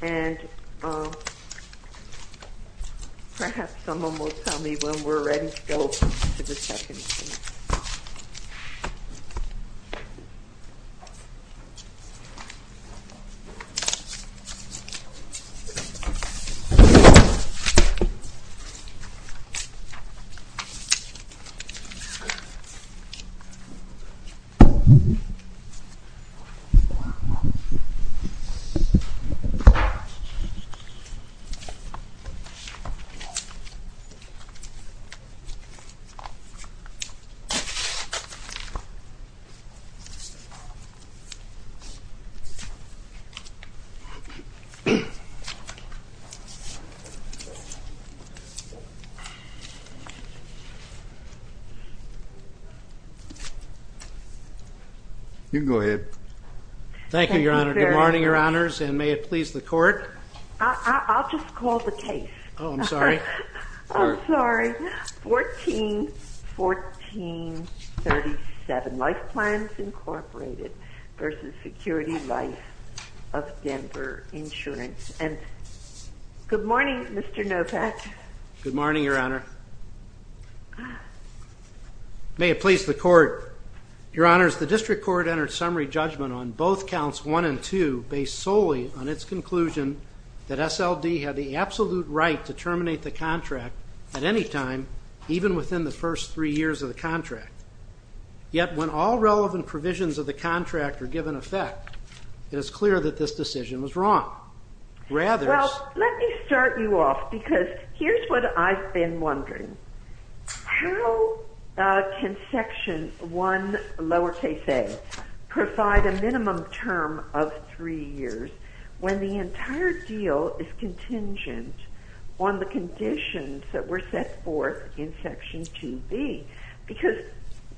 and perhaps someone will tell me when we're ready to go. Thank you, Your Honor. Good morning, Your Honors. I'll just call the case. I'm sorry. 141437 Life Plans Incorporated v. Security Life of Denver Insurance. Good morning, Mr. Novak. Good morning, Your Honor. May it please the Court. Your Honors, the District Court entered summary judgment on both counts 1 and 2 based solely on its conclusion that SLD had the absolute right to terminate the contract at any time, even within the first three years of the contract. Yet, when all relevant provisions of the contract are given effect, it is clear that this decision was wrong. Well, let me start you off because here's what I've been wondering. How can Section 1, lowercase a, provide a minimum term of three years when the entire deal is contingent on the conditions that were set forth in Section 2B? Because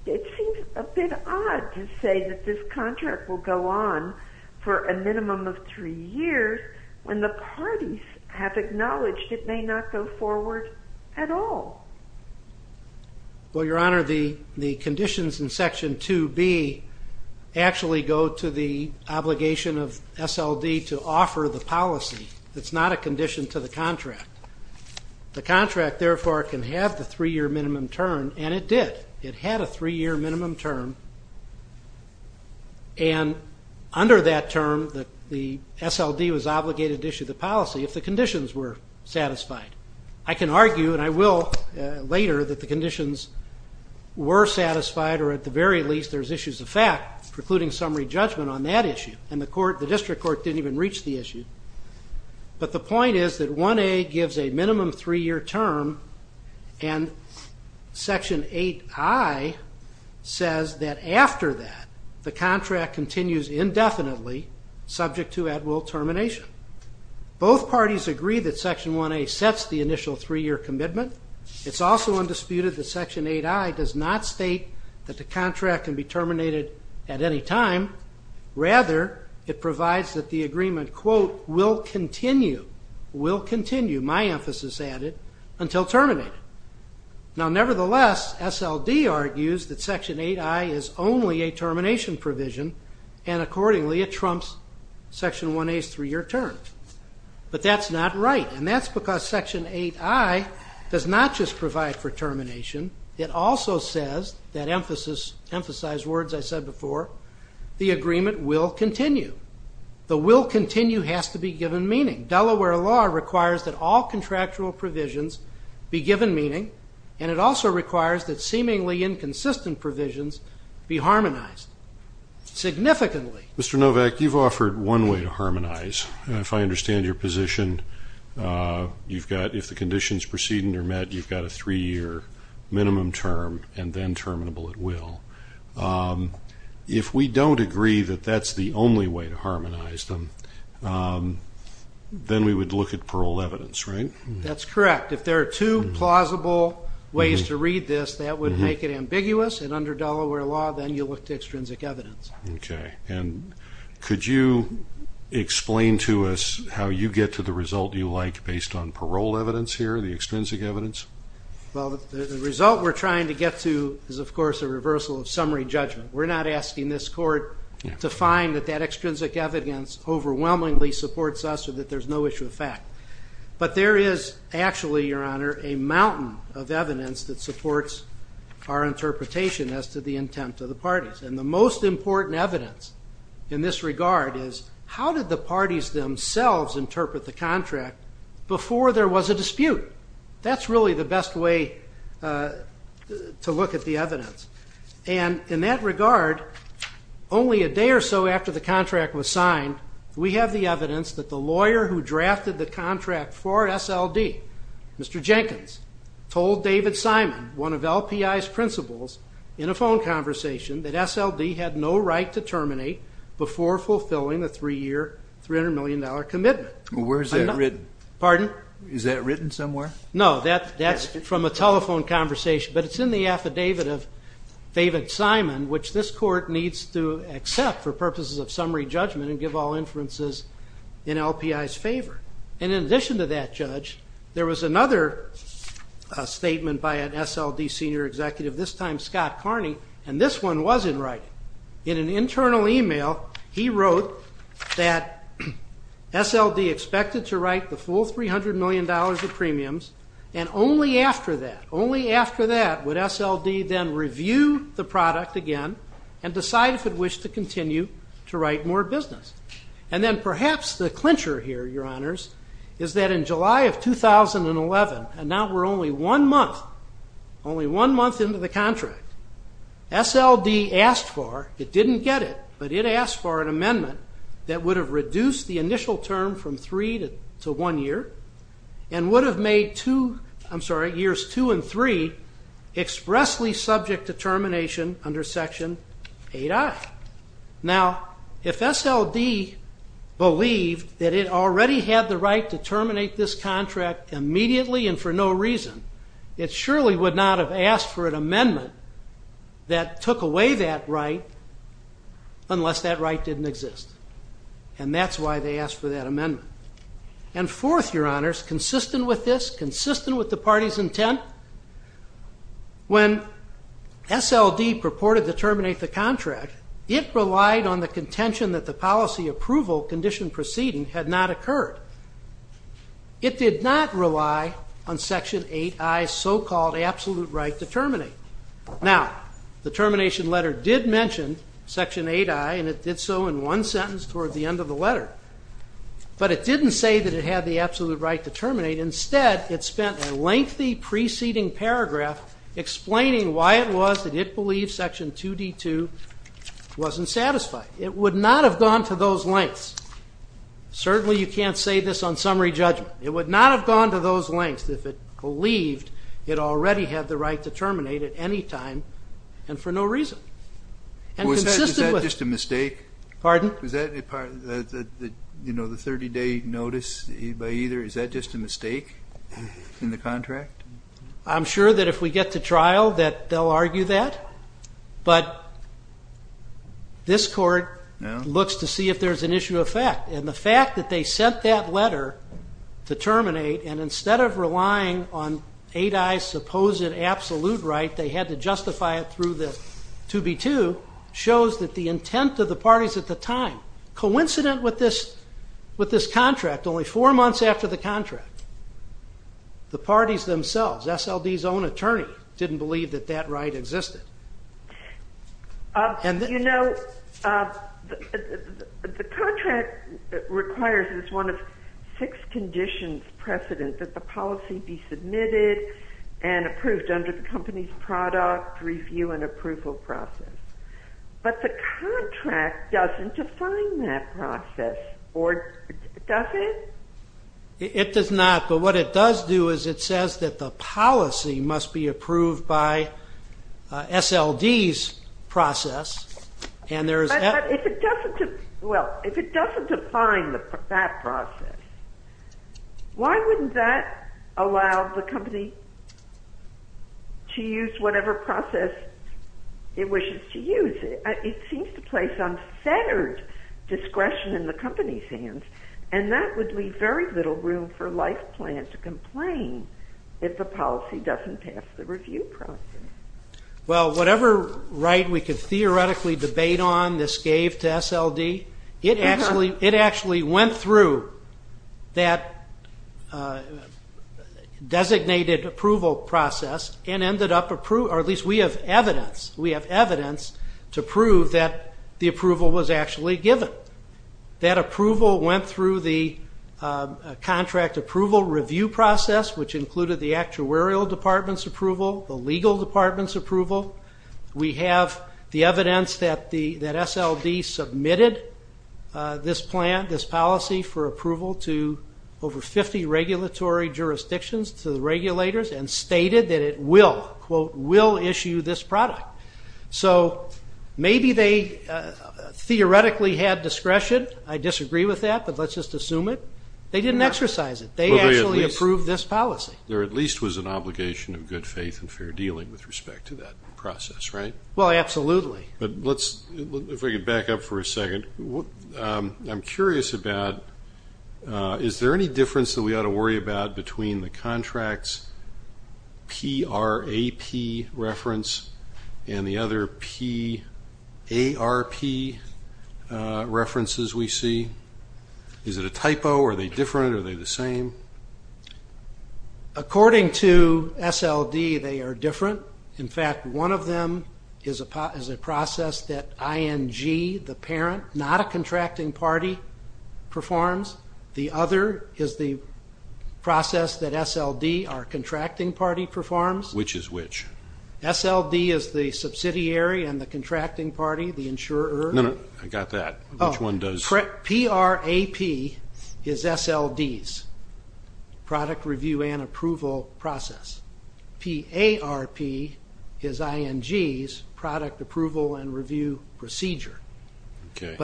it seems a bit odd to say that this contract will go on for a minimum of three years when the parties have acknowledged it may not go forward at all. Well, Your Honor, the conditions in Section 2B actually go to the obligation of SLD to offer the policy. It's not a condition to the contract. The contract, therefore, can have the three-year minimum term, and it did. It had a three-year minimum term, and under that term, the SLD was obligated to issue the policy if the conditions were satisfied. I can argue, and I will later, that the conditions were satisfied, or at the very least, there's issues of fact precluding summary judgment on that issue. And the District Court didn't even reach the issue. But the point is that 1A gives a minimum three-year term, and Section 8I says that after that, the contract continues indefinitely, subject to at-will termination. Both parties agree that Section 1A sets the initial three-year commitment. It's also undisputed that Section 8I does not state that the contract can be terminated at any time. Rather, it provides that the agreement, quote, will continue, will continue, my emphasis added, until terminated. Now, nevertheless, SLD argues that Section 8I is only a termination provision, and accordingly, it trumps Section 1A's three-year term. But that's not right, and that's because Section 8I does not just provide for termination. It also says, that emphasized words I said before, the agreement will continue. The will continue has to be given meaning. Delaware law requires that all contractual provisions be given meaning, and it also requires that seemingly inconsistent provisions be harmonized significantly. Mr. Novak, you've offered one way to harmonize. If I understand your position, you've got, if the conditions preceding are met, you've got a three-year minimum term, and then terminable at will. If we don't agree that that's the only way to harmonize them, then we would look at parole evidence, right? That's correct. If there are two plausible ways to read this, that would make it ambiguous, and under Delaware law, then you look to extrinsic evidence. Okay. And could you explain to us how you get to the result you like based on parole evidence here, the extrinsic evidence? Well, the result we're trying to get to is, of course, a reversal of summary judgment. We're not asking this Court to find that that extrinsic evidence overwhelmingly supports us or that there's no issue of fact. But there is actually, Your Honor, a mountain of evidence that supports our interpretation as to the intent of the parties. And the most important evidence in this regard is, how did the parties themselves interpret the contract before there was a dispute? That's really the best way to look at the evidence. And in that regard, only a day or so after the contract was signed, we have the evidence that the lawyer who drafted the contract for SLD, Mr. Jenkins, told David Simon, one of LPI's principals, in a phone conversation, that SLD had no right to terminate before fulfilling a three-year, $300 million commitment. Where is that written? Pardon? Is that written somewhere? No. That's from a telephone conversation. But it's in the affidavit of David Simon, which this Court needs to accept for purposes of summary judgment and give all inferences in LPI's favor. And in addition to that, Judge, there was another statement by an SLD senior executive, this time Scott Carney, and this one was in writing. In an internal email, he wrote that SLD expected to write the full $300 million of premiums. And only after that, only after that, would SLD then review the product again and decide if it wished to continue to write more business. And then perhaps the clincher here, Your Honors, is that in July of 2011, and now we're only one month, only one month into the contract, SLD asked for, it didn't get it, but it asked for an amendment that would have reduced the initial term from three to one year and would have made two, I'm sorry, years two and three expressly subject to termination under Section 8I. Now, if SLD believed that it already had the right to terminate this contract immediately and for no reason, it surely would not have asked for an amendment that took away that right unless that right didn't exist. And that's why they asked for that amendment. And fourth, Your Honors, consistent with this, consistent with the party's intent, when SLD purported to terminate the contract, it relied on the contention that the policy approval condition proceeding had not occurred. It did not rely on Section 8I's so-called absolute right to terminate. Now, the termination letter did mention Section 8I, and it did so in one sentence toward the end of the letter. But it didn't say that it had the absolute right to terminate. Instead, it spent a lengthy preceding paragraph explaining why it was that it believed Section 2D-2 wasn't satisfied. It would not have gone to those lengths. Certainly, you can't say this on summary judgment. It would not have gone to those lengths if it believed it already had the right to terminate at any time and for no reason. And consistent with... Was that just a mistake? Pardon? Was that the 30-day notice by either? Is that just a mistake in the contract? I'm sure that if we get to trial that they'll argue that. But this court looks to see if there's an issue of fact. And the fact that they sent that letter to terminate, and instead of relying on 8I's supposed absolute right, they had to justify it through the 2B-2, shows that the intent of the parties at the time, coincident with this contract only four months after the contract, the parties themselves, SLD's own attorney, didn't believe that that right existed. You know, the contract requires as one of six conditions precedent that the policy be submitted and approved under the company's product review and approval process. But the contract doesn't define that process, or does it? It does not. But what it does do is it says that the policy must be approved by SLD's process. But if it doesn't define that process, why wouldn't that allow the company to use whatever process it wishes to use? It seems to place unfettered discretion in the company's hands, and that would leave very little room for LifePlan to complain if the policy doesn't pass the review process. Well, whatever right we could theoretically debate on, this gave to SLD. It actually went through that designated approval process and ended up approving, or at least we have evidence to prove that the approval was actually given. That approval went through the contract approval review process, which included the actuarial department's approval, the legal department's approval. We have the evidence that SLD submitted this plan, this policy, for approval to over 50 regulatory jurisdictions to the regulators and stated that it will, quote, will issue this product. So maybe they theoretically had discretion. I disagree with that, but let's just assume it. They didn't exercise it. They actually approved this policy. There at least was an obligation of good faith and fair dealing with respect to that process, right? Well, absolutely. If we could back up for a second. I'm curious about is there any difference that we ought to worry about between the contract's PRAP reference and the other PARP references we see? Is it a typo? Are they different? Are they the same? According to SLD, they are different. In fact, one of them is a process that ING, the parent, not a contracting party, performs. The other is the process that SLD, our contracting party, performs. Which is which? SLD is the subsidiary and the contracting party, the insurer. No, no, I got that. Which one does? PRAP is SLD's, product review and approval process. PARP is ING's, product approval and review procedure. Okay.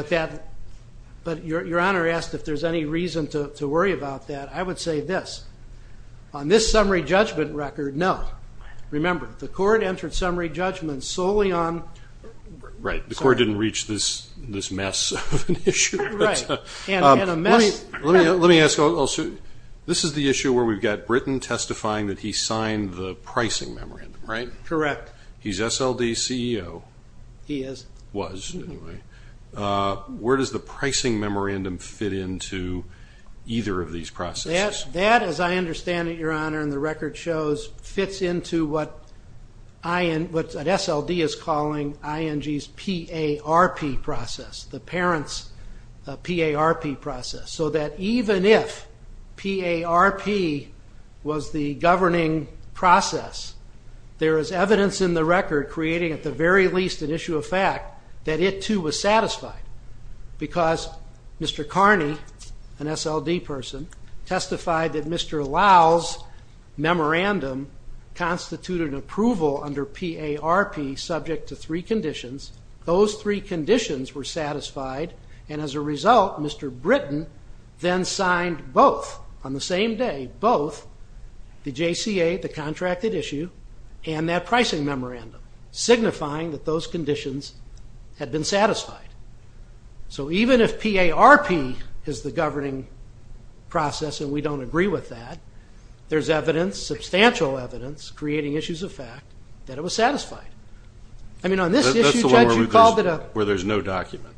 But Your Honor asked if there's any reason to worry about that. I would say this. On this summary judgment record, no. Remember, the court entered summary judgment solely on. Right. The court didn't reach this mess of an issue. Right. And a mess. Let me ask. This is the issue where we've got Britton testifying that he signed the pricing memorandum, right? Correct. He's SLD's CEO. He is. Was, anyway. Where does the pricing memorandum fit into either of these processes? That, as I understand it, Your Honor, and the record shows, fits into what SLD is calling ING's PARP process. The parent's PARP process. So that even if PARP was the governing process, there is evidence in the record creating at the very least an issue of fact that it, too, was satisfied. Because Mr. Carney, an SLD person, testified that Mr. Lyle's memorandum constituted approval under PARP subject to three conditions. Those three conditions were satisfied. And as a result, Mr. Britton then signed both on the same day, both the JCA, the contracted issue, and that pricing memorandum, signifying that those conditions had been satisfied. So even if PARP is the governing process and we don't agree with that, there's evidence, substantial evidence, creating issues of fact that it was satisfied. I mean, on this issue, Judge, you called it a… That's the one where there's no document.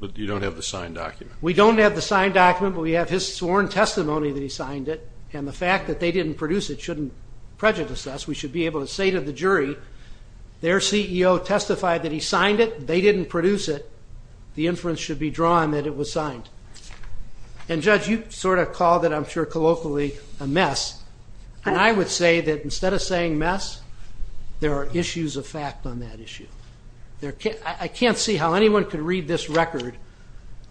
But you don't have the signed document. We don't have the signed document, but we have his sworn testimony that he signed it. And the fact that they didn't produce it shouldn't prejudice us. We should be able to say to the jury, their CEO testified that he signed it. They didn't produce it. The inference should be drawn that it was signed. And, Judge, you sort of called it, I'm sure colloquially, a mess. And I would say that instead of saying mess, there are issues of fact on that issue. I can't see how anyone could read this record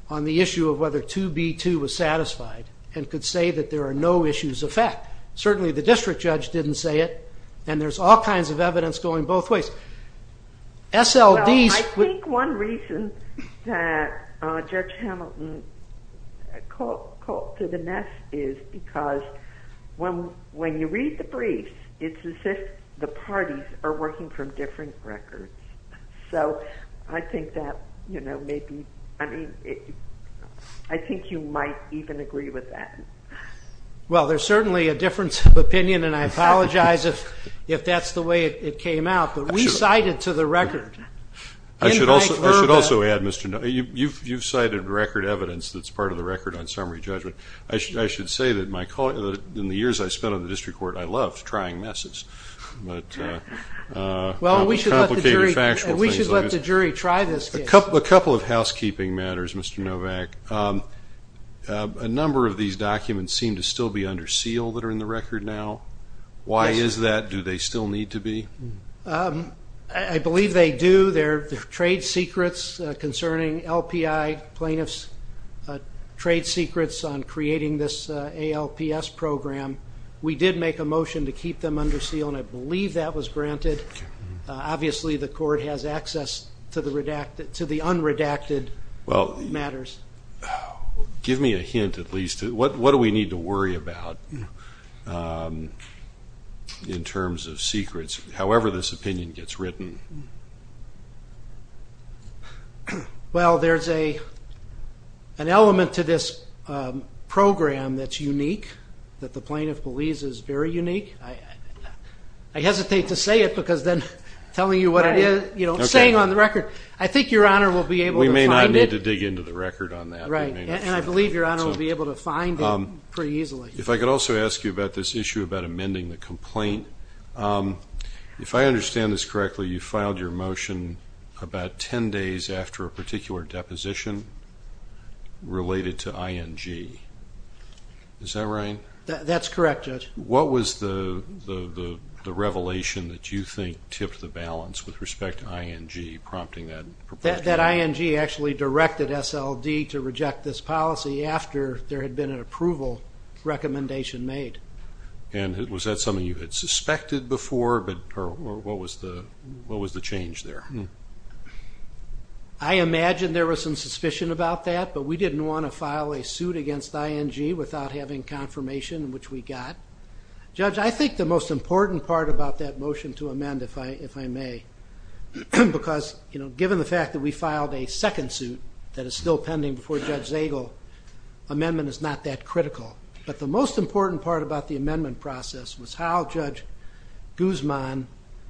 on the issue of whether 2B2 was satisfied and could say that there are no issues of fact. Certainly the district judge didn't say it. And there's all kinds of evidence going both ways. SLDs… I think one reason that Judge Hamilton called it a mess is because when you read the briefs, it's as if the parties are working from different records. So I think that, you know, maybe, I mean, I think you might even agree with that. Well, there's certainly a difference of opinion, and I apologize if that's the way it came out. But we cited to the record. I should also add, Mr. Novak, you've cited record evidence that's part of the record on summary judgment. I should say that in the years I spent on the district court, I loved trying messes. Well, we should let the jury try this case. A couple of housekeeping matters, Mr. Novak. A number of these documents seem to still be under seal that are in the record now. Why is that? Do they still need to be? I believe they do. They're trade secrets concerning LPI plaintiffs' trade secrets on creating this ALPS program. We did make a motion to keep them under seal, and I believe that was granted. Obviously, the court has access to the unredacted matters. Give me a hint, at least. What do we need to worry about in terms of secrets, however this opinion gets written? Well, there's an element to this program that's unique, that the plaintiff believes is very unique. I hesitate to say it because then telling you what it is, saying on the record, I think Your Honor will be able to find it. We may not need to dig into the record on that. Right, and I believe Your Honor will be able to find it pretty easily. If I could also ask you about this issue about amending the complaint. If I understand this correctly, you filed your motion about 10 days after a particular deposition related to ING. Is that right? That's correct, Judge. What was the revelation that you think tipped the balance with respect to ING, prompting that? That ING actually directed SLD to reject this policy after there had been an approval recommendation made. And was that something you had suspected before, or what was the change there? I imagine there was some suspicion about that, but we didn't want to file a suit against ING without having confirmation, which we got. Judge, I think the most important part about that motion to amend, if I may, because given the fact that we filed a second suit that is still pending before Judge Zagel, amendment is not that critical. But the most important part about the amendment process was how Judge Guzman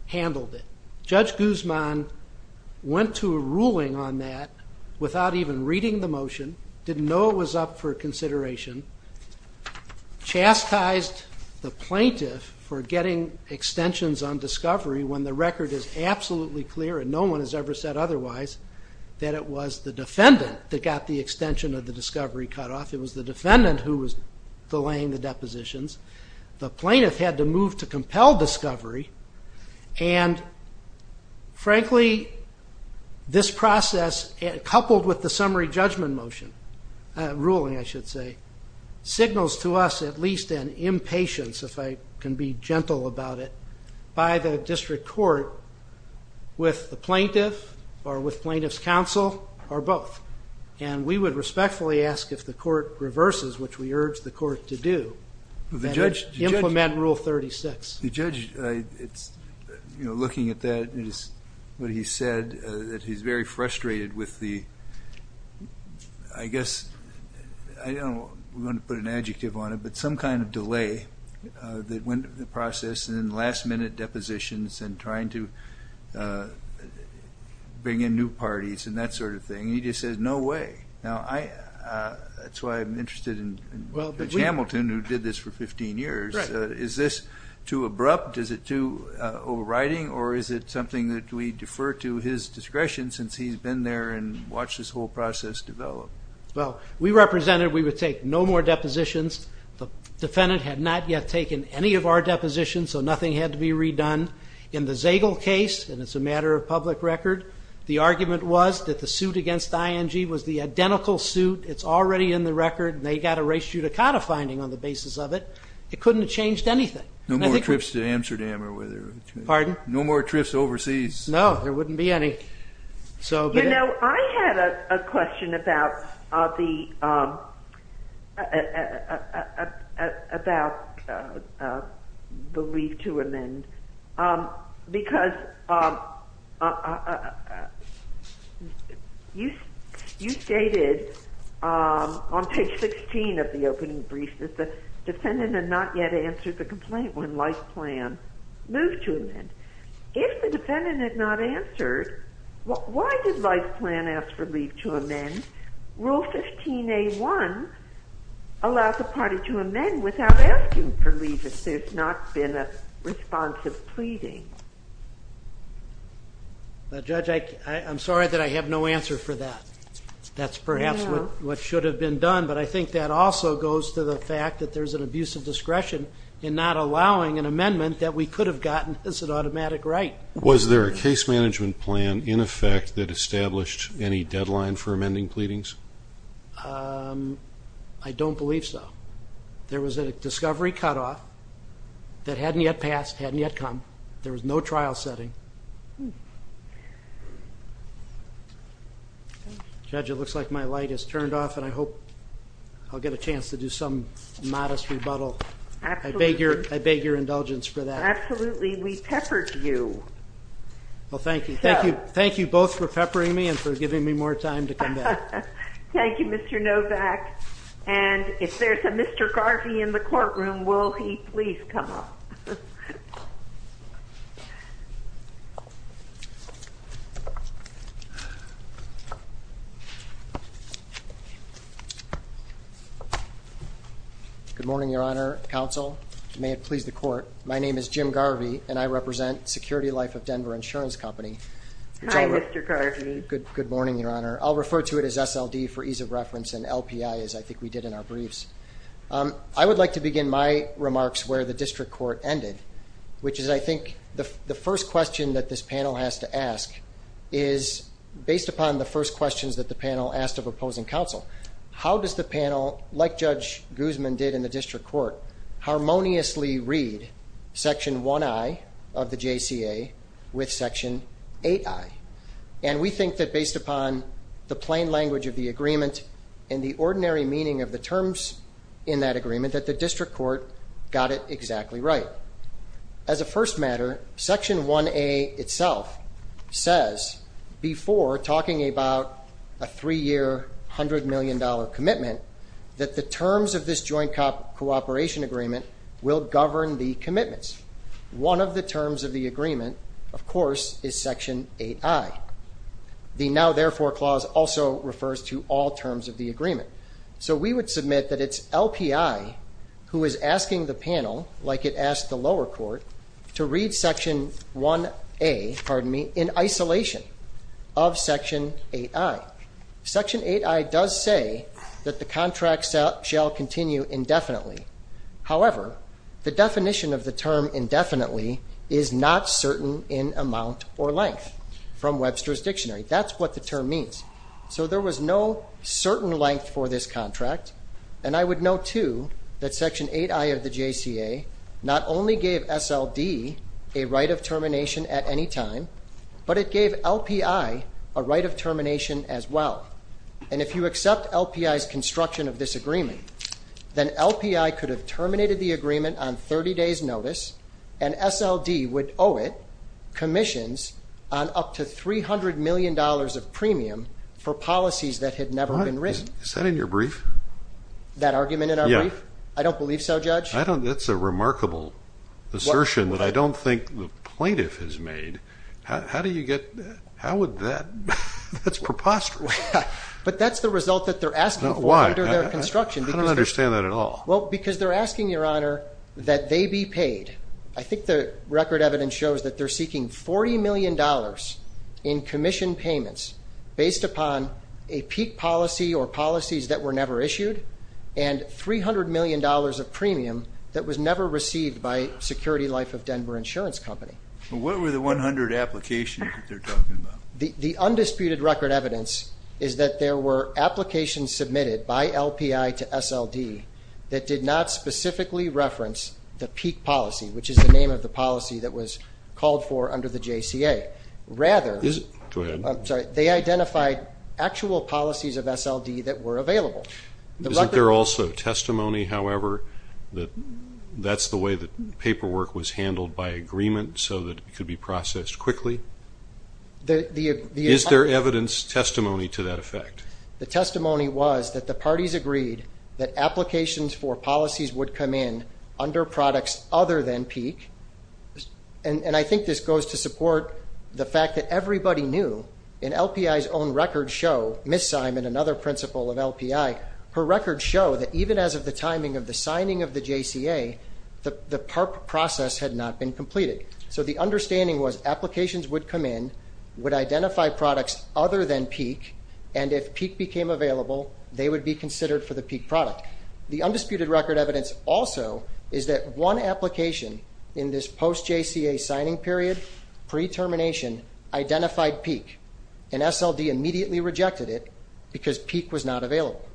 handled it. Judge Guzman went to a ruling on that without even reading the motion, didn't know it was up for consideration, chastised the plaintiff for getting extensions on discovery when the record is absolutely clear, and no one has ever said otherwise, that it was the defendant that got the extension of the discovery cutoff. It was the defendant who was delaying the depositions. The plaintiff had to move to compel discovery, and frankly, this process coupled with the summary judgment motion, ruling I should say, signals to us at least an impatience, if I can be gentle about it, by the district court with the plaintiff or with plaintiff's counsel or both. And we would respectfully ask if the court reverses, which we urge the court to do, and implement Rule 36. The judge, looking at that, what he said, that he's very frustrated with the, I guess, I don't want to put an adjective on it, but some kind of delay that went through the process and then last minute depositions and trying to bring in new parties and that sort of thing. He just says, no way. Now, that's why I'm interested in Judge Hamilton, who did this for 15 years. Is this too abrupt? Is it too overriding, or is it something that we defer to his discretion since he's been there and watched this whole process develop? Well, we represented we would take no more depositions. The defendant had not yet taken any of our depositions, so nothing had to be redone. In the Zagel case, and it's a matter of public record, the argument was that the suit against ING was the identical suit. It's already in the record, and they got a res judicata finding on the basis of it. It couldn't have changed anything. No more trips to Amsterdam or wherever. Pardon? No more trips overseas. No, there wouldn't be any. You know, I had a question about the leave to amend because you stated on page 16 of the opening brief that the defendant had not yet answered the complaint when life plan moved to amend. If the defendant had not answered, why did life plan ask for leave to amend? Rule 15A1 allows the party to amend without asking for leave if there's not been a responsive pleading. Judge, I'm sorry that I have no answer for that. That's perhaps what should have been done, but I think that also goes to the fact that there's an abuse of discretion in not allowing an amendment that we could have gotten as an automatic right. Was there a case management plan in effect that established any deadline for amending pleadings? I don't believe so. There was a discovery cutoff that hadn't yet passed, hadn't yet come. There was no trial setting. Judge, it looks like my light has turned off, and I hope I'll get a chance to do some modest rebuttal. I beg your indulgence for that. Absolutely. We peppered you. Well, thank you. Thank you both for peppering me and for giving me more time to come back. Thank you, Mr. Novak. And if there's a Mr. Garvey in the courtroom, will he please come up? Good morning, Your Honor, Counsel. May it please the Court. My name is Jim Garvey, and I represent Security Life of Denver Insurance Company. Hi, Mr. Garvey. Good morning, Your Honor. I'll refer to it as SLD for ease of reference and LPI, as I think we did in our briefs. I would like to begin my remarks where the district court ended, which is I think the first question that this panel has to ask is, based upon the first questions that the panel asked of opposing counsel, how does the panel, like Judge Guzman did in the district court, harmoniously read Section 1I of the JCA with Section 8I? And we think that based upon the plain language of the agreement and the ordinary meaning of the terms in that agreement, that the district court got it exactly right. As a first matter, Section 1A itself says, before talking about a three-year, $100 million commitment, that the terms of this joint cooperation agreement will govern the commitments. One of the terms of the agreement, of course, is Section 8I. The now therefore clause also refers to all terms of the agreement. So we would submit that it's LPI who is asking the panel, like it asked the lower court, to read Section 1A in isolation of Section 8I. Section 8I does say that the contract shall continue indefinitely. However, the definition of the term indefinitely is not certain in amount or length from Webster's Dictionary. That's what the term means. So there was no certain length for this contract. And I would note, too, that Section 8I of the JCA not only gave SLD a right of termination at any time, but it gave LPI a right of termination as well. And if you accept LPI's construction of this agreement, then LPI could have terminated the agreement on 30 days' notice, and SLD would owe it commissions on up to $300 million of premium for policies that had never been written. Is that in your brief? That argument in our brief? Yeah. I don't believe so, Judge. That's a remarkable assertion that I don't think the plaintiff has made. How do you get that? That's preposterous. But that's the result that they're asking for under their construction. I don't understand that at all. Well, because they're asking, Your Honor, that they be paid. I think the record evidence shows that they're seeking $40 million in commission payments based upon a peak policy or policies that were never issued and $300 million of premium that was never received by Security Life of Denver Insurance Company. What were the 100 applications that they're talking about? The undisputed record evidence is that there were applications submitted by LPI to SLD that did not specifically reference the peak policy, which is the name of the policy that was called for under the JCA. Rather, they identified actual policies of SLD that were available. Isn't there also testimony, however, that that's the way the paperwork was handled by agreement so that it could be processed quickly? Is there evidence, testimony to that effect? The testimony was that the parties agreed that applications for policies would come in under products other than peak, and I think this goes to support the fact that everybody knew in LPI's own record show, Ms. Simon, another principal of LPI, her record show that even as of the timing of the signing of the JCA, the process had not been completed. So the understanding was applications would come in, would identify products other than peak, and if peak became available, they would be considered for the peak product. The undisputed record evidence also is that one application in this post-JCA signing period, pre-termination, identified peak, and SLD immediately rejected it because peak was not available.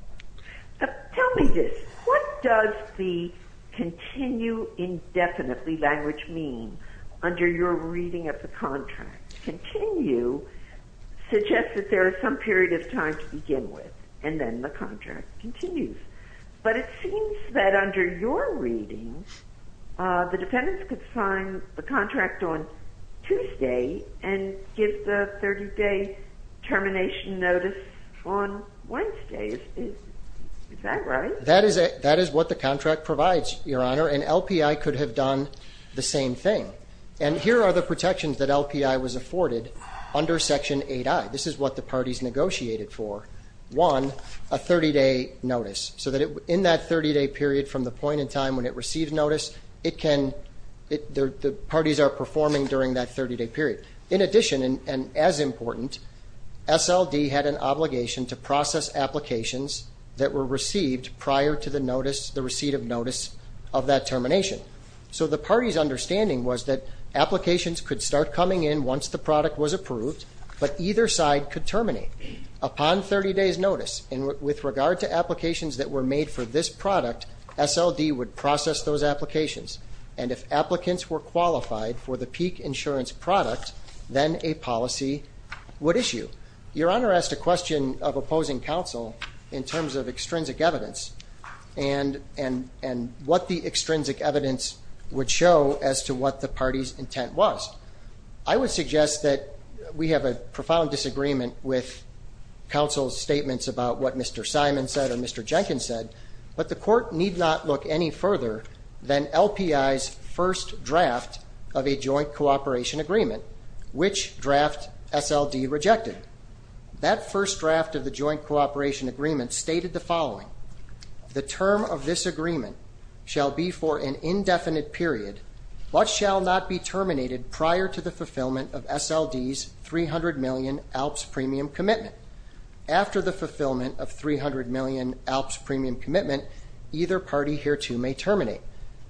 Tell me this. What does the continue indefinitely language mean under your reading of the contract? Continue suggests that there is some period of time to begin with, and then the contract continues. But it seems that under your readings, the defendants could sign the contract on Tuesday and give the 30-day termination notice on Wednesday. Is that right? That is what the contract provides, Your Honor, and LPI could have done the same thing. And here are the protections that LPI was afforded under Section 8i. This is what the parties negotiated for. One, a 30-day notice, so that in that 30-day period from the point in time when it received notice, the parties are performing during that 30-day period. In addition, and as important, SLD had an obligation to process applications that were received prior to the notice, the receipt of notice of that termination. So the party's understanding was that applications could start coming in once the product was approved, but either side could terminate. Upon 30-days notice, and with regard to applications that were made for this product, SLD would process those applications, and if applicants were qualified for the peak insurance product, then a policy would issue. Your Honor asked a question of opposing counsel in terms of extrinsic evidence and what the extrinsic evidence would show as to what the party's intent was. I would suggest that we have a profound disagreement with counsel's statements about what Mr. Simon said or Mr. Jenkins said, but the Court need not look any further than LPI's first draft of a joint cooperation agreement, which draft SLD rejected. That first draft of the joint cooperation agreement stated the following. The term of this agreement shall be for an indefinite period. What shall not be terminated prior to the fulfillment of SLD's 300 million ALPS premium commitment? After the fulfillment of 300 million ALPS premium commitment, either party hereto may terminate.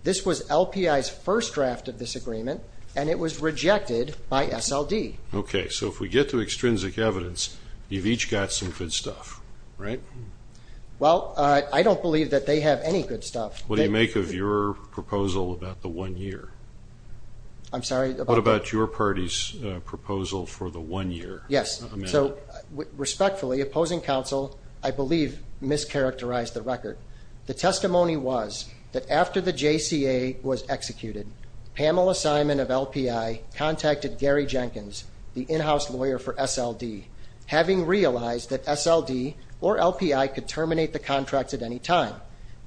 This was LPI's first draft of this agreement, and it was rejected by SLD. Okay, so if we get to extrinsic evidence, you've each got some good stuff, right? Well, I don't believe that they have any good stuff. What do you make of your proposal about the one year? I'm sorry? What about your party's proposal for the one year? Yes, so respectfully, opposing counsel, I believe, mischaracterized the record. The testimony was that after the JCA was executed, Pamela Simon of LPI contacted Gary Jenkins, the in-house lawyer for SLD, having realized that SLD or LPI could terminate the contract at any time.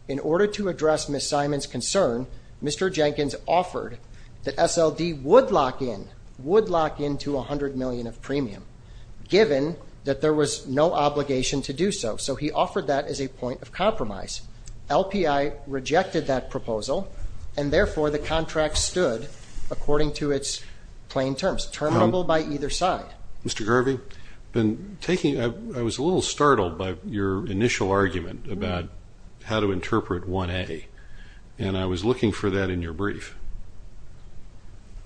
In order to address Ms. Simon's concern, Mr. Jenkins offered that SLD would lock in, would lock in to 100 million of premium, given that there was no obligation to do so. So he offered that as a point of compromise. LPI rejected that proposal, and therefore the contract stood according to its plain terms, terminable by either side. Mr. Garvey, I was a little startled by your initial argument about how to interpret 1A, and I was looking for that in your brief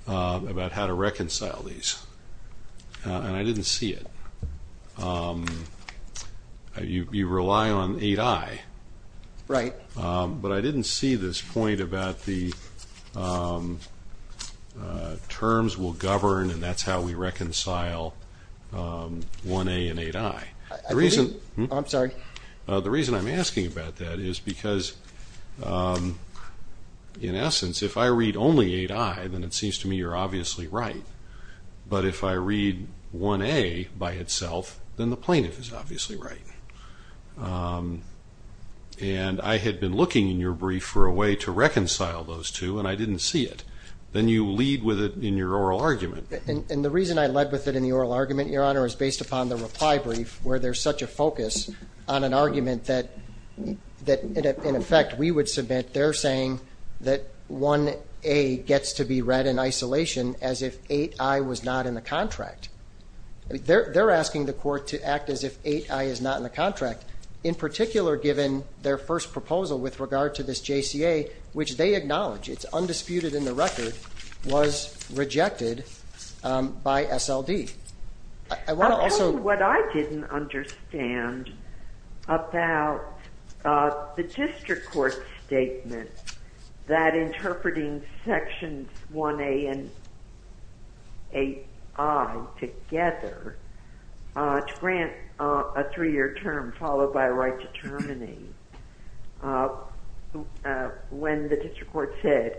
about how to reconcile these, and I didn't see it. You rely on 8I. Right. But I didn't see this point about the terms will govern, and that's how we reconcile 1A and 8I. I believe you. I'm sorry. The reason I'm asking about that is because, in essence, if I read only 8I, then it seems to me you're obviously right. But if I read 1A by itself, then the plaintiff is obviously right. And I had been looking in your brief for a way to reconcile those two, and I didn't see it. Then you lead with it in your oral argument. And the reason I led with it in the oral argument, Your Honor, is based upon the reply brief where there's such a focus on an argument that, in effect, we would submit they're saying that 1A gets to be read in isolation as if 8I was not in the contract. They're asking the court to act as if 8I is not in the contract, in particular given their first proposal with regard to this JCA, which they acknowledge. It's undisputed in the record, was rejected by SLD. What I didn't understand about the district court statement that interpreting sections 1A and 8I together to grant a three-year term followed by a right to terminate, when the district court said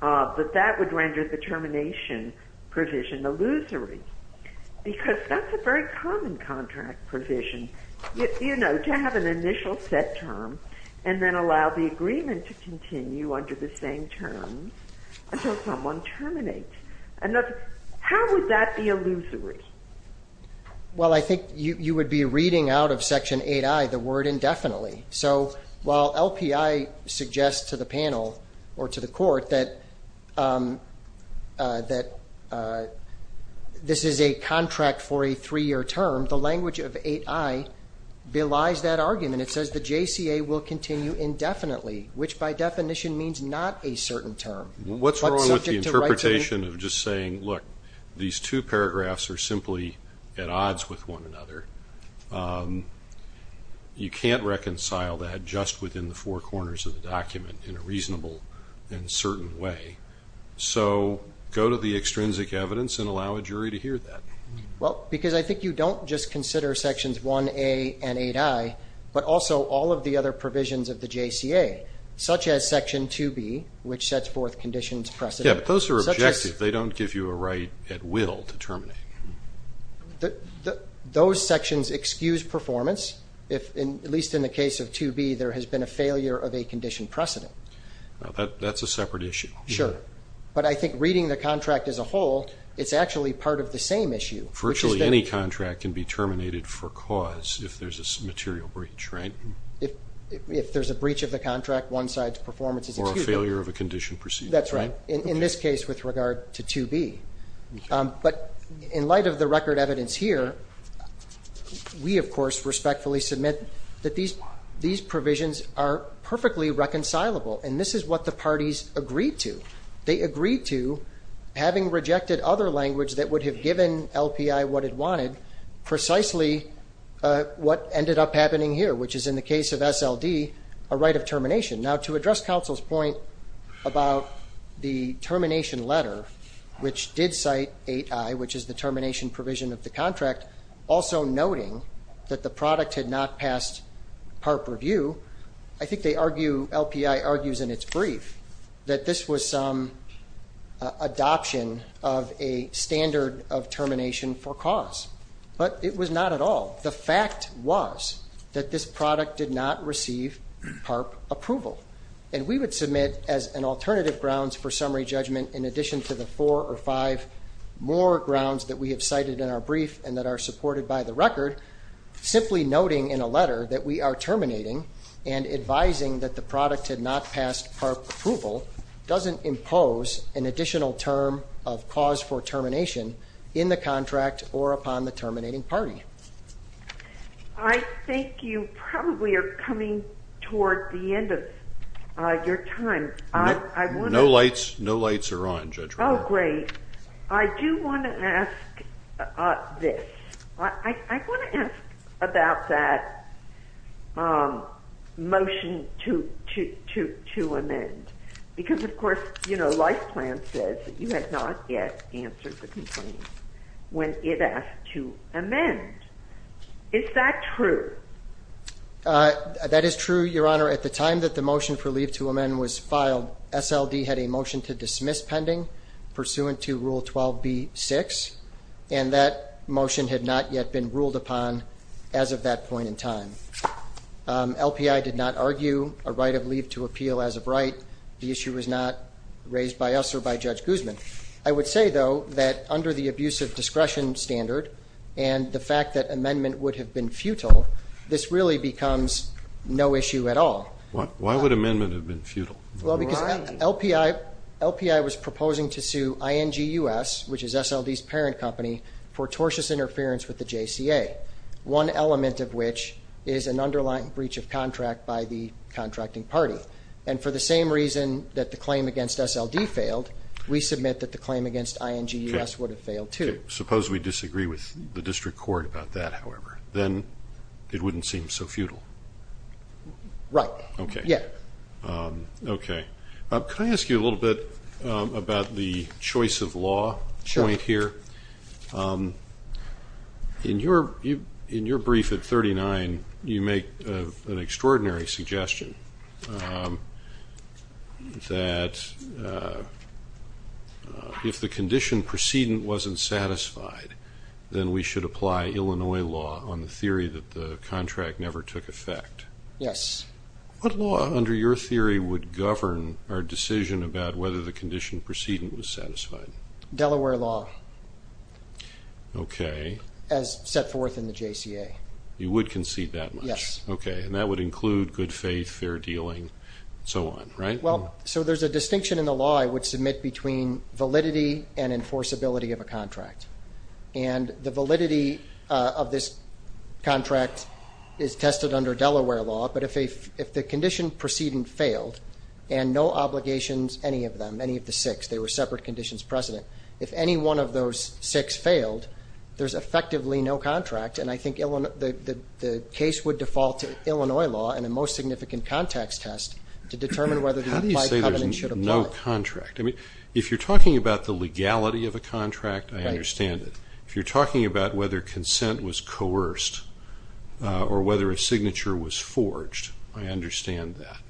that that would render the termination provision illusory because that's a very common contract provision, you know, to have an initial set term and then allow the agreement to continue under the same term until someone terminates. How would that be illusory? Well, I think you would be reading out of Section 8I the word indefinitely. So while LPI suggests to the panel or to the court that this is a contract for a three-year term, the language of 8I belies that argument. It says the JCA will continue indefinitely, which by definition means not a certain term. What's wrong with the interpretation of just saying, look, these two paragraphs are simply at odds with one another? You can't reconcile that just within the four corners of the document in a reasonable and certain way. So go to the extrinsic evidence and allow a jury to hear that. Well, because I think you don't just consider Sections 1A and 8I, but also all of the other provisions of the JCA, such as Section 2B, which sets forth conditions precedent. Yeah, but those are objective. They don't give you a right at will to terminate. Those sections excuse performance if, at least in the case of 2B, there has been a failure of a condition precedent. That's a separate issue. Sure. But I think reading the contract as a whole, it's actually part of the same issue. Virtually any contract can be terminated for cause if there's a material breach, right? If there's a breach of the contract, one side's performance is excused. Or a failure of a condition precedent. That's right, in this case with regard to 2B. But in light of the record evidence here, we, of course, respectfully submit that these provisions are perfectly reconcilable. And this is what the parties agreed to. They agreed to, having rejected other language that would have given LPI what it wanted, precisely what ended up happening here, which is in the case of SLD, a right of termination. Now, to address counsel's point about the termination letter, which did cite 8I, which is the termination provision of the contract, also noting that the product had not passed PARP review, I think they argue, LPI argues in its brief, that this was some adoption of a standard of termination for cause. But it was not at all. The fact was that this product did not receive PARP approval. And we would submit as an alternative grounds for summary judgment, in addition to the four or five more grounds that we have cited in our brief and that are supported by the record, simply noting in a letter that we are terminating and advising that the product had not passed PARP approval doesn't impose an additional term of cause for termination in the contract or upon the terminating party. I think you probably are coming toward the end of your time. No lights are on, Judge Roberts. Oh, great. I do want to ask this. I want to ask about that motion to amend. Because, of course, Life Plan says that you have not yet answered the complaint when it asked to amend. Is that true? That is true, Your Honor. At the time that the motion for leave to amend was filed, SLD had a motion to dismiss pending pursuant to Rule 12b-6, and that motion had not yet been ruled upon as of that point in time. LPI did not argue a right of leave to appeal as of right. The issue was not raised by us or by Judge Guzman. I would say, though, that under the abusive discretion standard and the fact that amendment would have been futile, this really becomes no issue at all. Why would amendment have been futile? Well, because LPI was proposing to sue INGUS, which is SLD's parent company, for tortious interference with the JCA, one element of which is an underlying breach of contract by the contracting party. And for the same reason that the claim against SLD failed, we submit that the claim against INGUS would have failed too. Suppose we disagree with the district court about that, however. Then it wouldn't seem so futile. Right. Okay. Yeah. Okay. Can I ask you a little bit about the choice of law point here? Sure. In your brief at 39, you make an extraordinary suggestion that if the condition precedent wasn't satisfied, then we should apply Illinois law on the theory that the contract never took effect. Yes. What law, under your theory, would govern our decision about whether the condition precedent was satisfied? Delaware law. Okay. As set forth in the JCA. You would concede that much? Yes. Okay. And that would include good faith, fair dealing, and so on, right? Well, so there's a distinction in the law I would submit between validity and enforceability of a contract. And the validity of this contract is tested under Delaware law, but if the condition precedent failed and no obligations, any of them, any of the six, they were separate conditions precedent. If any one of those six failed, there's effectively no contract, and I think the case would default to Illinois law and a most significant context test to determine whether the applied covenant should apply. How do you say there's no contract? I mean, if you're talking about the legality of a contract, I understand it. If you're talking about whether consent was coerced or whether a signature was forged, I understand that.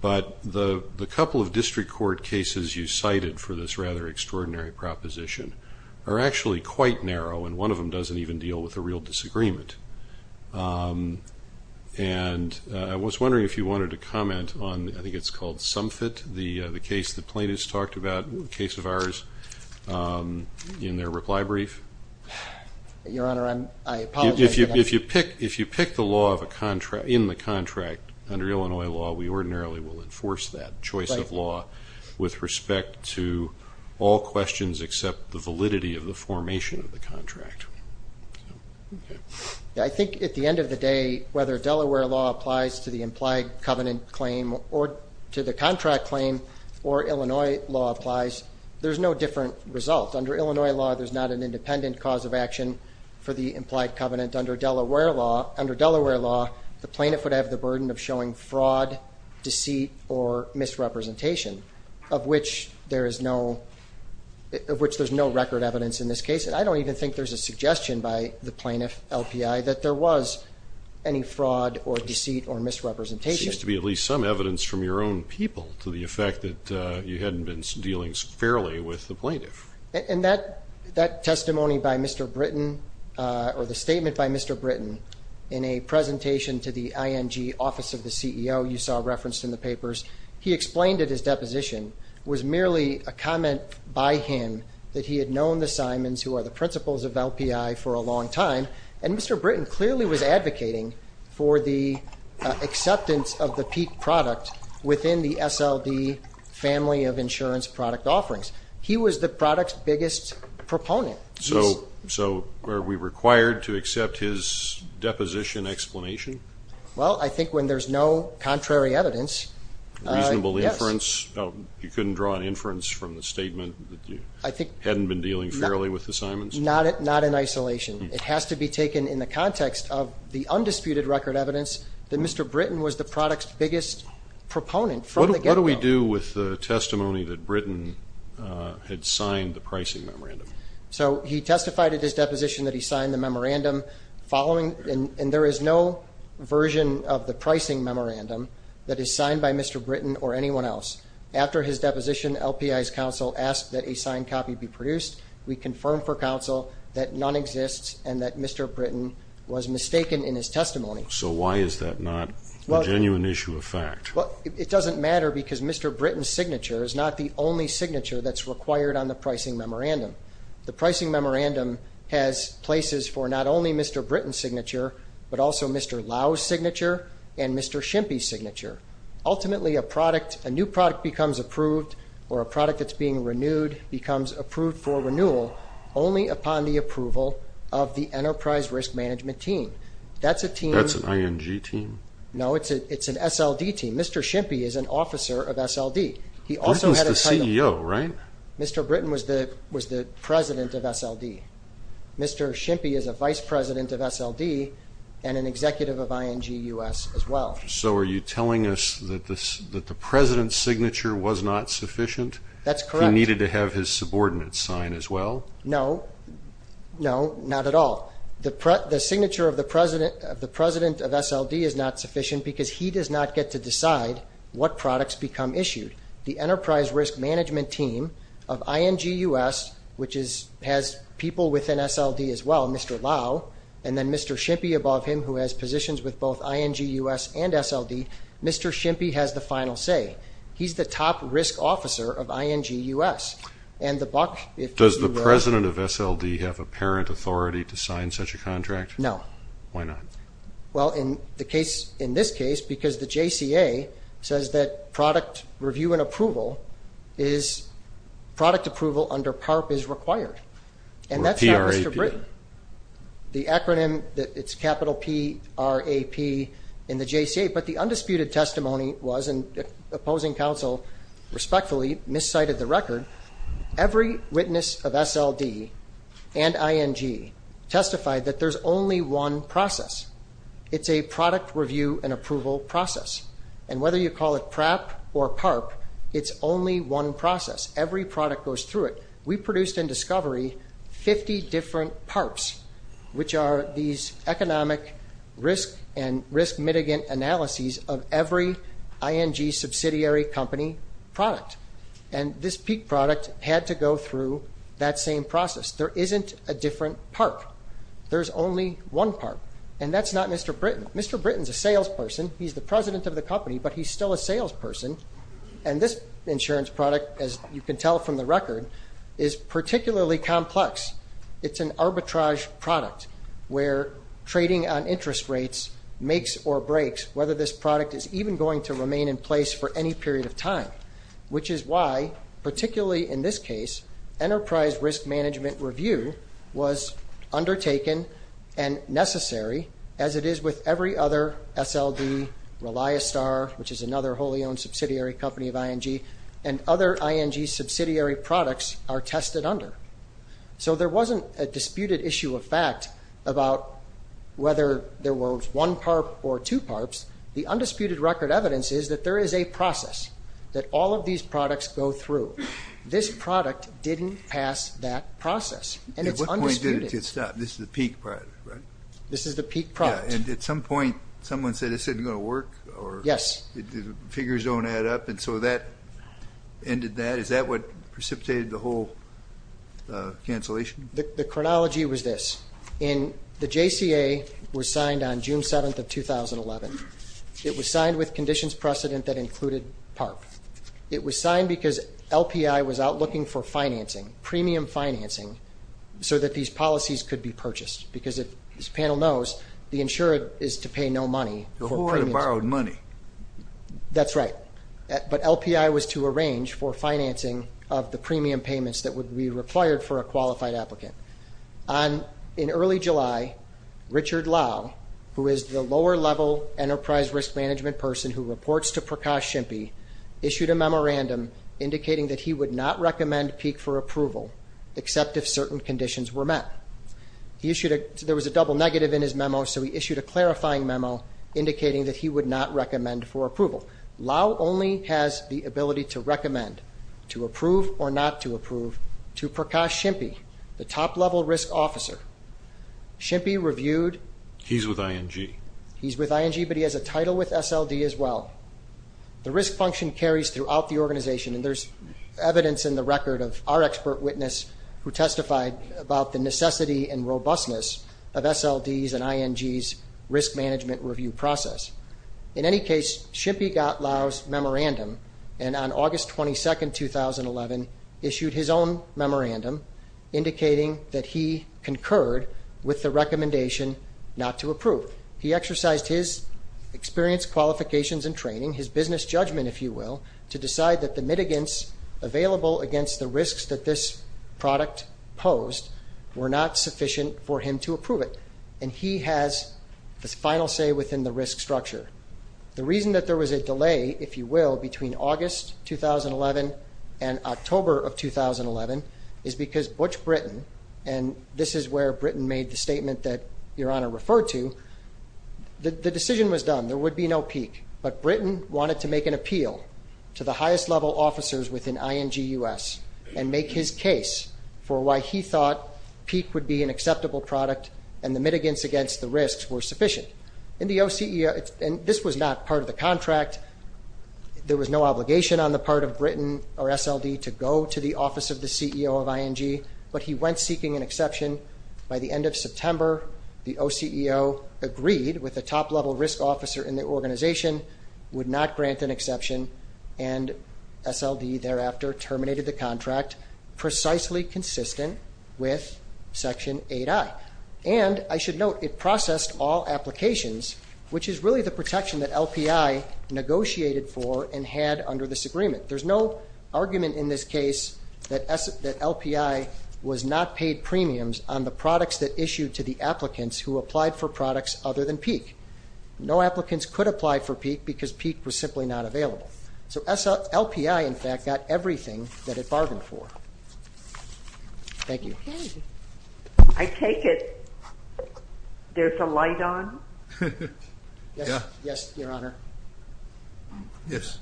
But the couple of district court cases you cited for this rather extraordinary proposition are actually quite narrow, and one of them doesn't even deal with a real disagreement. And I was wondering if you wanted to comment on, I think it's called, the case the plaintiffs talked about, a case of ours, in their reply brief. Your Honor, I apologize for that. If you pick the law in the contract under Illinois law, we ordinarily will enforce that choice of law with respect to all questions except the validity of the formation of the contract. I think at the end of the day, whether Delaware law applies to the implied covenant claim or to the contract claim or Illinois law applies, there's no different result. Under Illinois law, there's not an independent cause of action for the implied covenant. Under Delaware law, the plaintiff would have the burden of showing fraud, deceit, or misrepresentation, of which there's no record evidence in this case. And I don't even think there's a suggestion by the plaintiff, LPI, that there was any fraud or deceit or misrepresentation. There seems to be at least some evidence from your own people to the effect that you hadn't been dealing fairly with the plaintiff. And that testimony by Mr. Britton, or the statement by Mr. Britton, in a presentation to the ING Office of the CEO you saw referenced in the papers, he explained that his deposition was merely a comment by him that he had known the Simons, who are the principals of LPI, for a long time. And Mr. Britton clearly was advocating for the acceptance of the peak product within the SLD family of insurance product offerings. He was the product's biggest proponent. So are we required to accept his deposition explanation? Well, I think when there's no contrary evidence, yes. Reasonable inference? You couldn't draw an inference from the statement that you hadn't been dealing fairly with the Simons? Not in isolation. It has to be taken in the context of the undisputed record evidence that Mr. Britton was the product's biggest proponent from the get-go. What do we do with the testimony that Britton had signed the pricing memorandum? So he testified at his deposition that he signed the memorandum following, and there is no version of the pricing memorandum that is signed by Mr. Britton or anyone else. After his deposition, LPI's counsel asked that a signed copy be produced. We confirmed for counsel that none exists and that Mr. Britton was mistaken in his testimony. So why is that not a genuine issue of fact? Well, it doesn't matter because Mr. Britton's signature is not the only signature that's required on the pricing memorandum. The pricing memorandum has places for not only Mr. Britton's signature but also Mr. Lau's signature and Mr. Schimppi's signature. Ultimately, a product, a new product becomes approved or a product that's being renewed becomes approved for renewal only upon the approval of the Enterprise Risk Management Team. That's a team. That's an ING team? No, it's an SLD team. Mr. Schimppi is an officer of SLD. He also had a title. Britton's the CEO, right? Mr. Britton was the president of SLD. Mr. Schimppi is a vice president of SLD and an executive of ING US as well. So are you telling us that the president's signature was not sufficient? That's correct. He needed to have his subordinate's sign as well? No, no, not at all. The signature of the president of SLD is not sufficient because he does not get to decide what products become issued. The Enterprise Risk Management Team of ING US, which has people within SLD as well, Mr. Lau, and then Mr. Schimppi above him, who has positions with both ING US and SLD, Mr. Schimppi has the final say. He's the top risk officer of ING US. Does the president of SLD have apparent authority to sign such a contract? No. Why not? Well, in this case, because the JCA says that product review and approval under PARP is required. And that's not Mr. Britton. The acronym, it's capital P-R-A-P in the JCA. But the undisputed testimony was, and opposing counsel respectfully miscited the record, every witness of SLD and ING testified that there's only one process. It's a product review and approval process. And whether you call it PRAP or PARP, it's only one process. Every product goes through it. We produced in discovery 50 different PARPs, which are these economic risk and risk-mitigant analyses of every ING subsidiary company product. And this peak product had to go through that same process. There isn't a different PARP. There's only one PARP. And that's not Mr. Britton. Mr. Britton's a salesperson. He's the president of the company, but he's still a salesperson. And this insurance product, as you can tell from the record, is particularly complex. It's an arbitrage product where trading on interest rates makes or breaks whether this product is even going to remain in place for any period of time, which is why, particularly in this case, enterprise risk management review was undertaken and necessary, as it is with every other SLD, Reliostar, which is another wholly-owned subsidiary company of ING, and other ING subsidiary products are tested under. So there wasn't a disputed issue of fact about whether there was one PARP or two PARPs. The undisputed record evidence is that there is a process that all of these products go through. This product didn't pass that process, and it's undisputed. At what point did it get stopped? This is the peak product, right? This is the peak product. Yeah, and at some point, someone said this isn't going to work or the figures don't add up, and so that ended that. Is that what precipitated the whole cancellation? The chronology was this. The JCA was signed on June 7th of 2011. It was signed with conditions precedent that included PARP. It was signed because LPI was out looking for financing, premium financing, so that these policies could be purchased because, as this panel knows, the insured is to pay no money for premiums. Who would have borrowed money? That's right. But LPI was to arrange for financing of the premium payments that would be required for a qualified applicant. In early July, Richard Lau, who is the lower-level enterprise risk management person who reports to Prakash Shimpy, issued a memorandum indicating that he would not recommend peak for approval except if certain conditions were met. There was a double negative in his memo, so he issued a clarifying memo indicating that he would not recommend for approval. Lau only has the ability to recommend to approve or not to approve to Prakash Shimpy, the top-level risk officer. Shimpy reviewed. He's with ING. He's with ING, but he has a title with SLD as well. The risk function carries throughout the organization, and there's evidence in the record of our expert witness who testified about the necessity and robustness of SLD's and ING's risk management review process. In any case, Shimpy got Lau's memorandum, and on August 22, 2011 issued his own memorandum indicating that he concurred with the recommendation not to approve. He exercised his experience, qualifications, and training, his business judgment, if you will, to decide that the mitigants available against the risks that this product posed were not sufficient for him to approve it. And he has the final say within the risk structure. The reason that there was a delay, if you will, between August 2011 and October of 2011 is because Butch Britton, and this is where Britton made the statement that Your Honor referred to, the decision was done, there would be no peak, but Britton wanted to make an appeal to the highest level officers within ING U.S. and make his case for why he thought peak would be an acceptable product and the mitigants against the risks were sufficient. In the OCEO, and this was not part of the contract, there was no obligation on the part of Britton or SLD to go to the office of the CEO of ING, but he went seeking an exception by the end of September. The OCEO agreed with the top level risk officer in the organization, would not grant an exception, and SLD thereafter terminated the contract precisely consistent with Section 8i. And I should note it processed all applications, which is really the protection that LPI negotiated for and had under this agreement. There's no argument in this case that LPI was not paid premiums on the products that issued to the applicants who applied for products other than peak. No applicants could apply for peak because peak was simply not available. So LPI, in fact, got everything that it bargained for. Thank you. I take it there's a light on? Yes, Your Honor. Yes.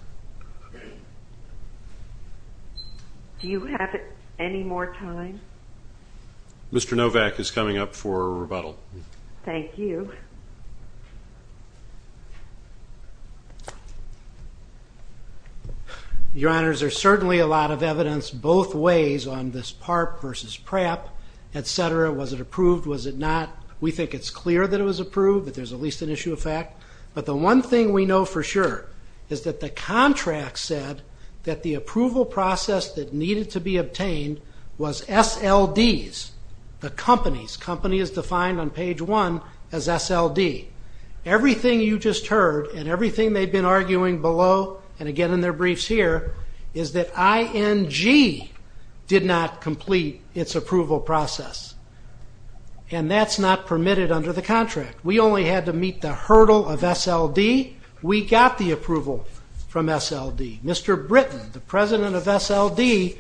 Do you have any more time? Mr. Novak is coming up for rebuttal. Thank you. Your Honors, there's certainly a lot of evidence both ways on this PARP versus PRAP, et cetera. Was it approved? Was it not? We think it's clear that it was approved, that there's at least an issue of fact. But the one thing we know for sure is that the contract said that the approval process that needed to be obtained was SLDs, the companies. Company is defined on page 1 as SLD. Everything you just heard and everything they've been arguing below, and again in their briefs here, is that ING did not complete its approval process. And that's not permitted under the contract. We only had to meet the hurdle of SLD. We got the approval from SLD. Mr. Britton, the president of SLD,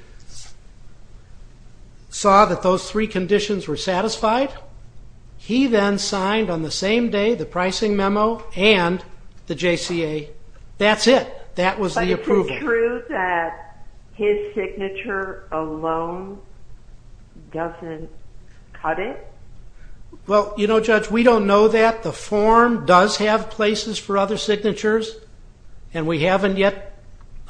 saw that those three conditions were satisfied. He then signed on the same day the pricing memo and the JCA. That's it. That was the approval. But is it true that his signature alone doesn't cut it? Well, you know, Judge, we don't know that. The form does have places for other signatures, and we haven't yet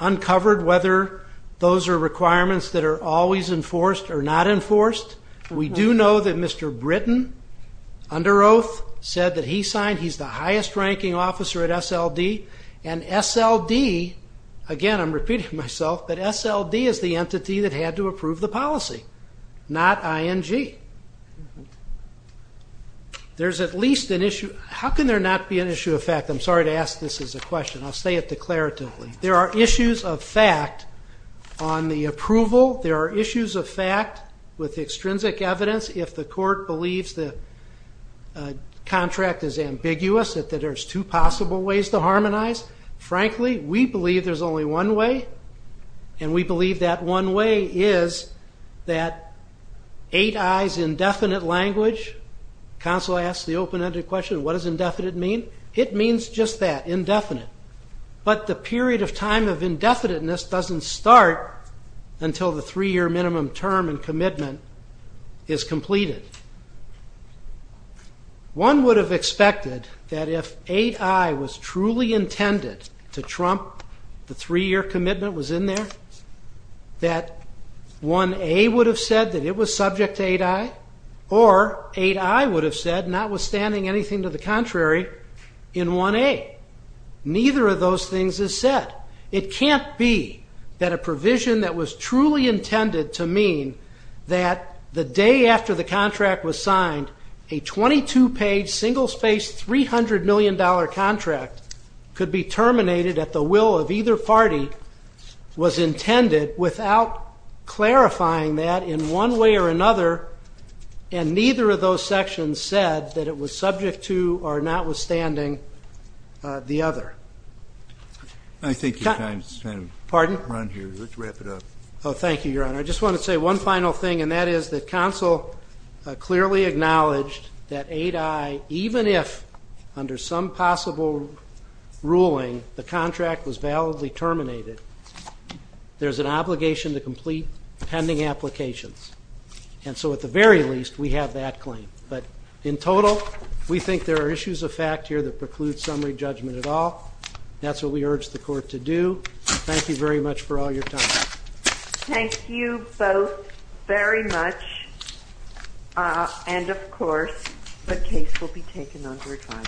uncovered whether those are requirements that are always enforced or not enforced. We do know that Mr. Britton, under oath, said that he signed. He's the highest-ranking officer at SLD. And SLD, again, I'm repeating myself, but SLD is the entity that had to approve the policy, not ING. There's at least an issue. How can there not be an issue of fact? I'm sorry to ask this as a question. I'll say it declaratively. There are issues of fact on the approval. There are issues of fact with extrinsic evidence. If the court believes the contract is ambiguous, that there's two possible ways to harmonize, frankly, we believe there's only one way, and we believe that one way is that 8I's indefinite language, counsel asks the open-ended question, what does indefinite mean? It means just that, indefinite. But the period of time of indefiniteness doesn't start until the three-year minimum term and commitment is completed. One would have expected that if 8I was truly intended to trump the three-year commitment that was in there, that 1A would have said that it was subject to 8I, or 8I would have said, notwithstanding anything to the contrary, in 1A. Neither of those things is said. It can't be that a provision that was truly intended to mean that the day after the contract was signed, a 22-page single-spaced $300 million contract could be terminated at the will of either party was intended without clarifying that in one way or another, and neither of those sections said that it was subject to, or notwithstanding, the other. I think your time's kind of run here. Let's wrap it up. Thank you, Your Honor. I just want to say one final thing, and that is that counsel clearly acknowledged that 8I, even if under some possible ruling the contract was validly terminated, there's an obligation to complete pending applications. And so at the very least, we have that claim. But in total, we think there are issues of fact here that preclude summary judgment at all. That's what we urge the Court to do. Thank you very much for all your time. Thank you both very much. And, of course, the case will be taken under trial.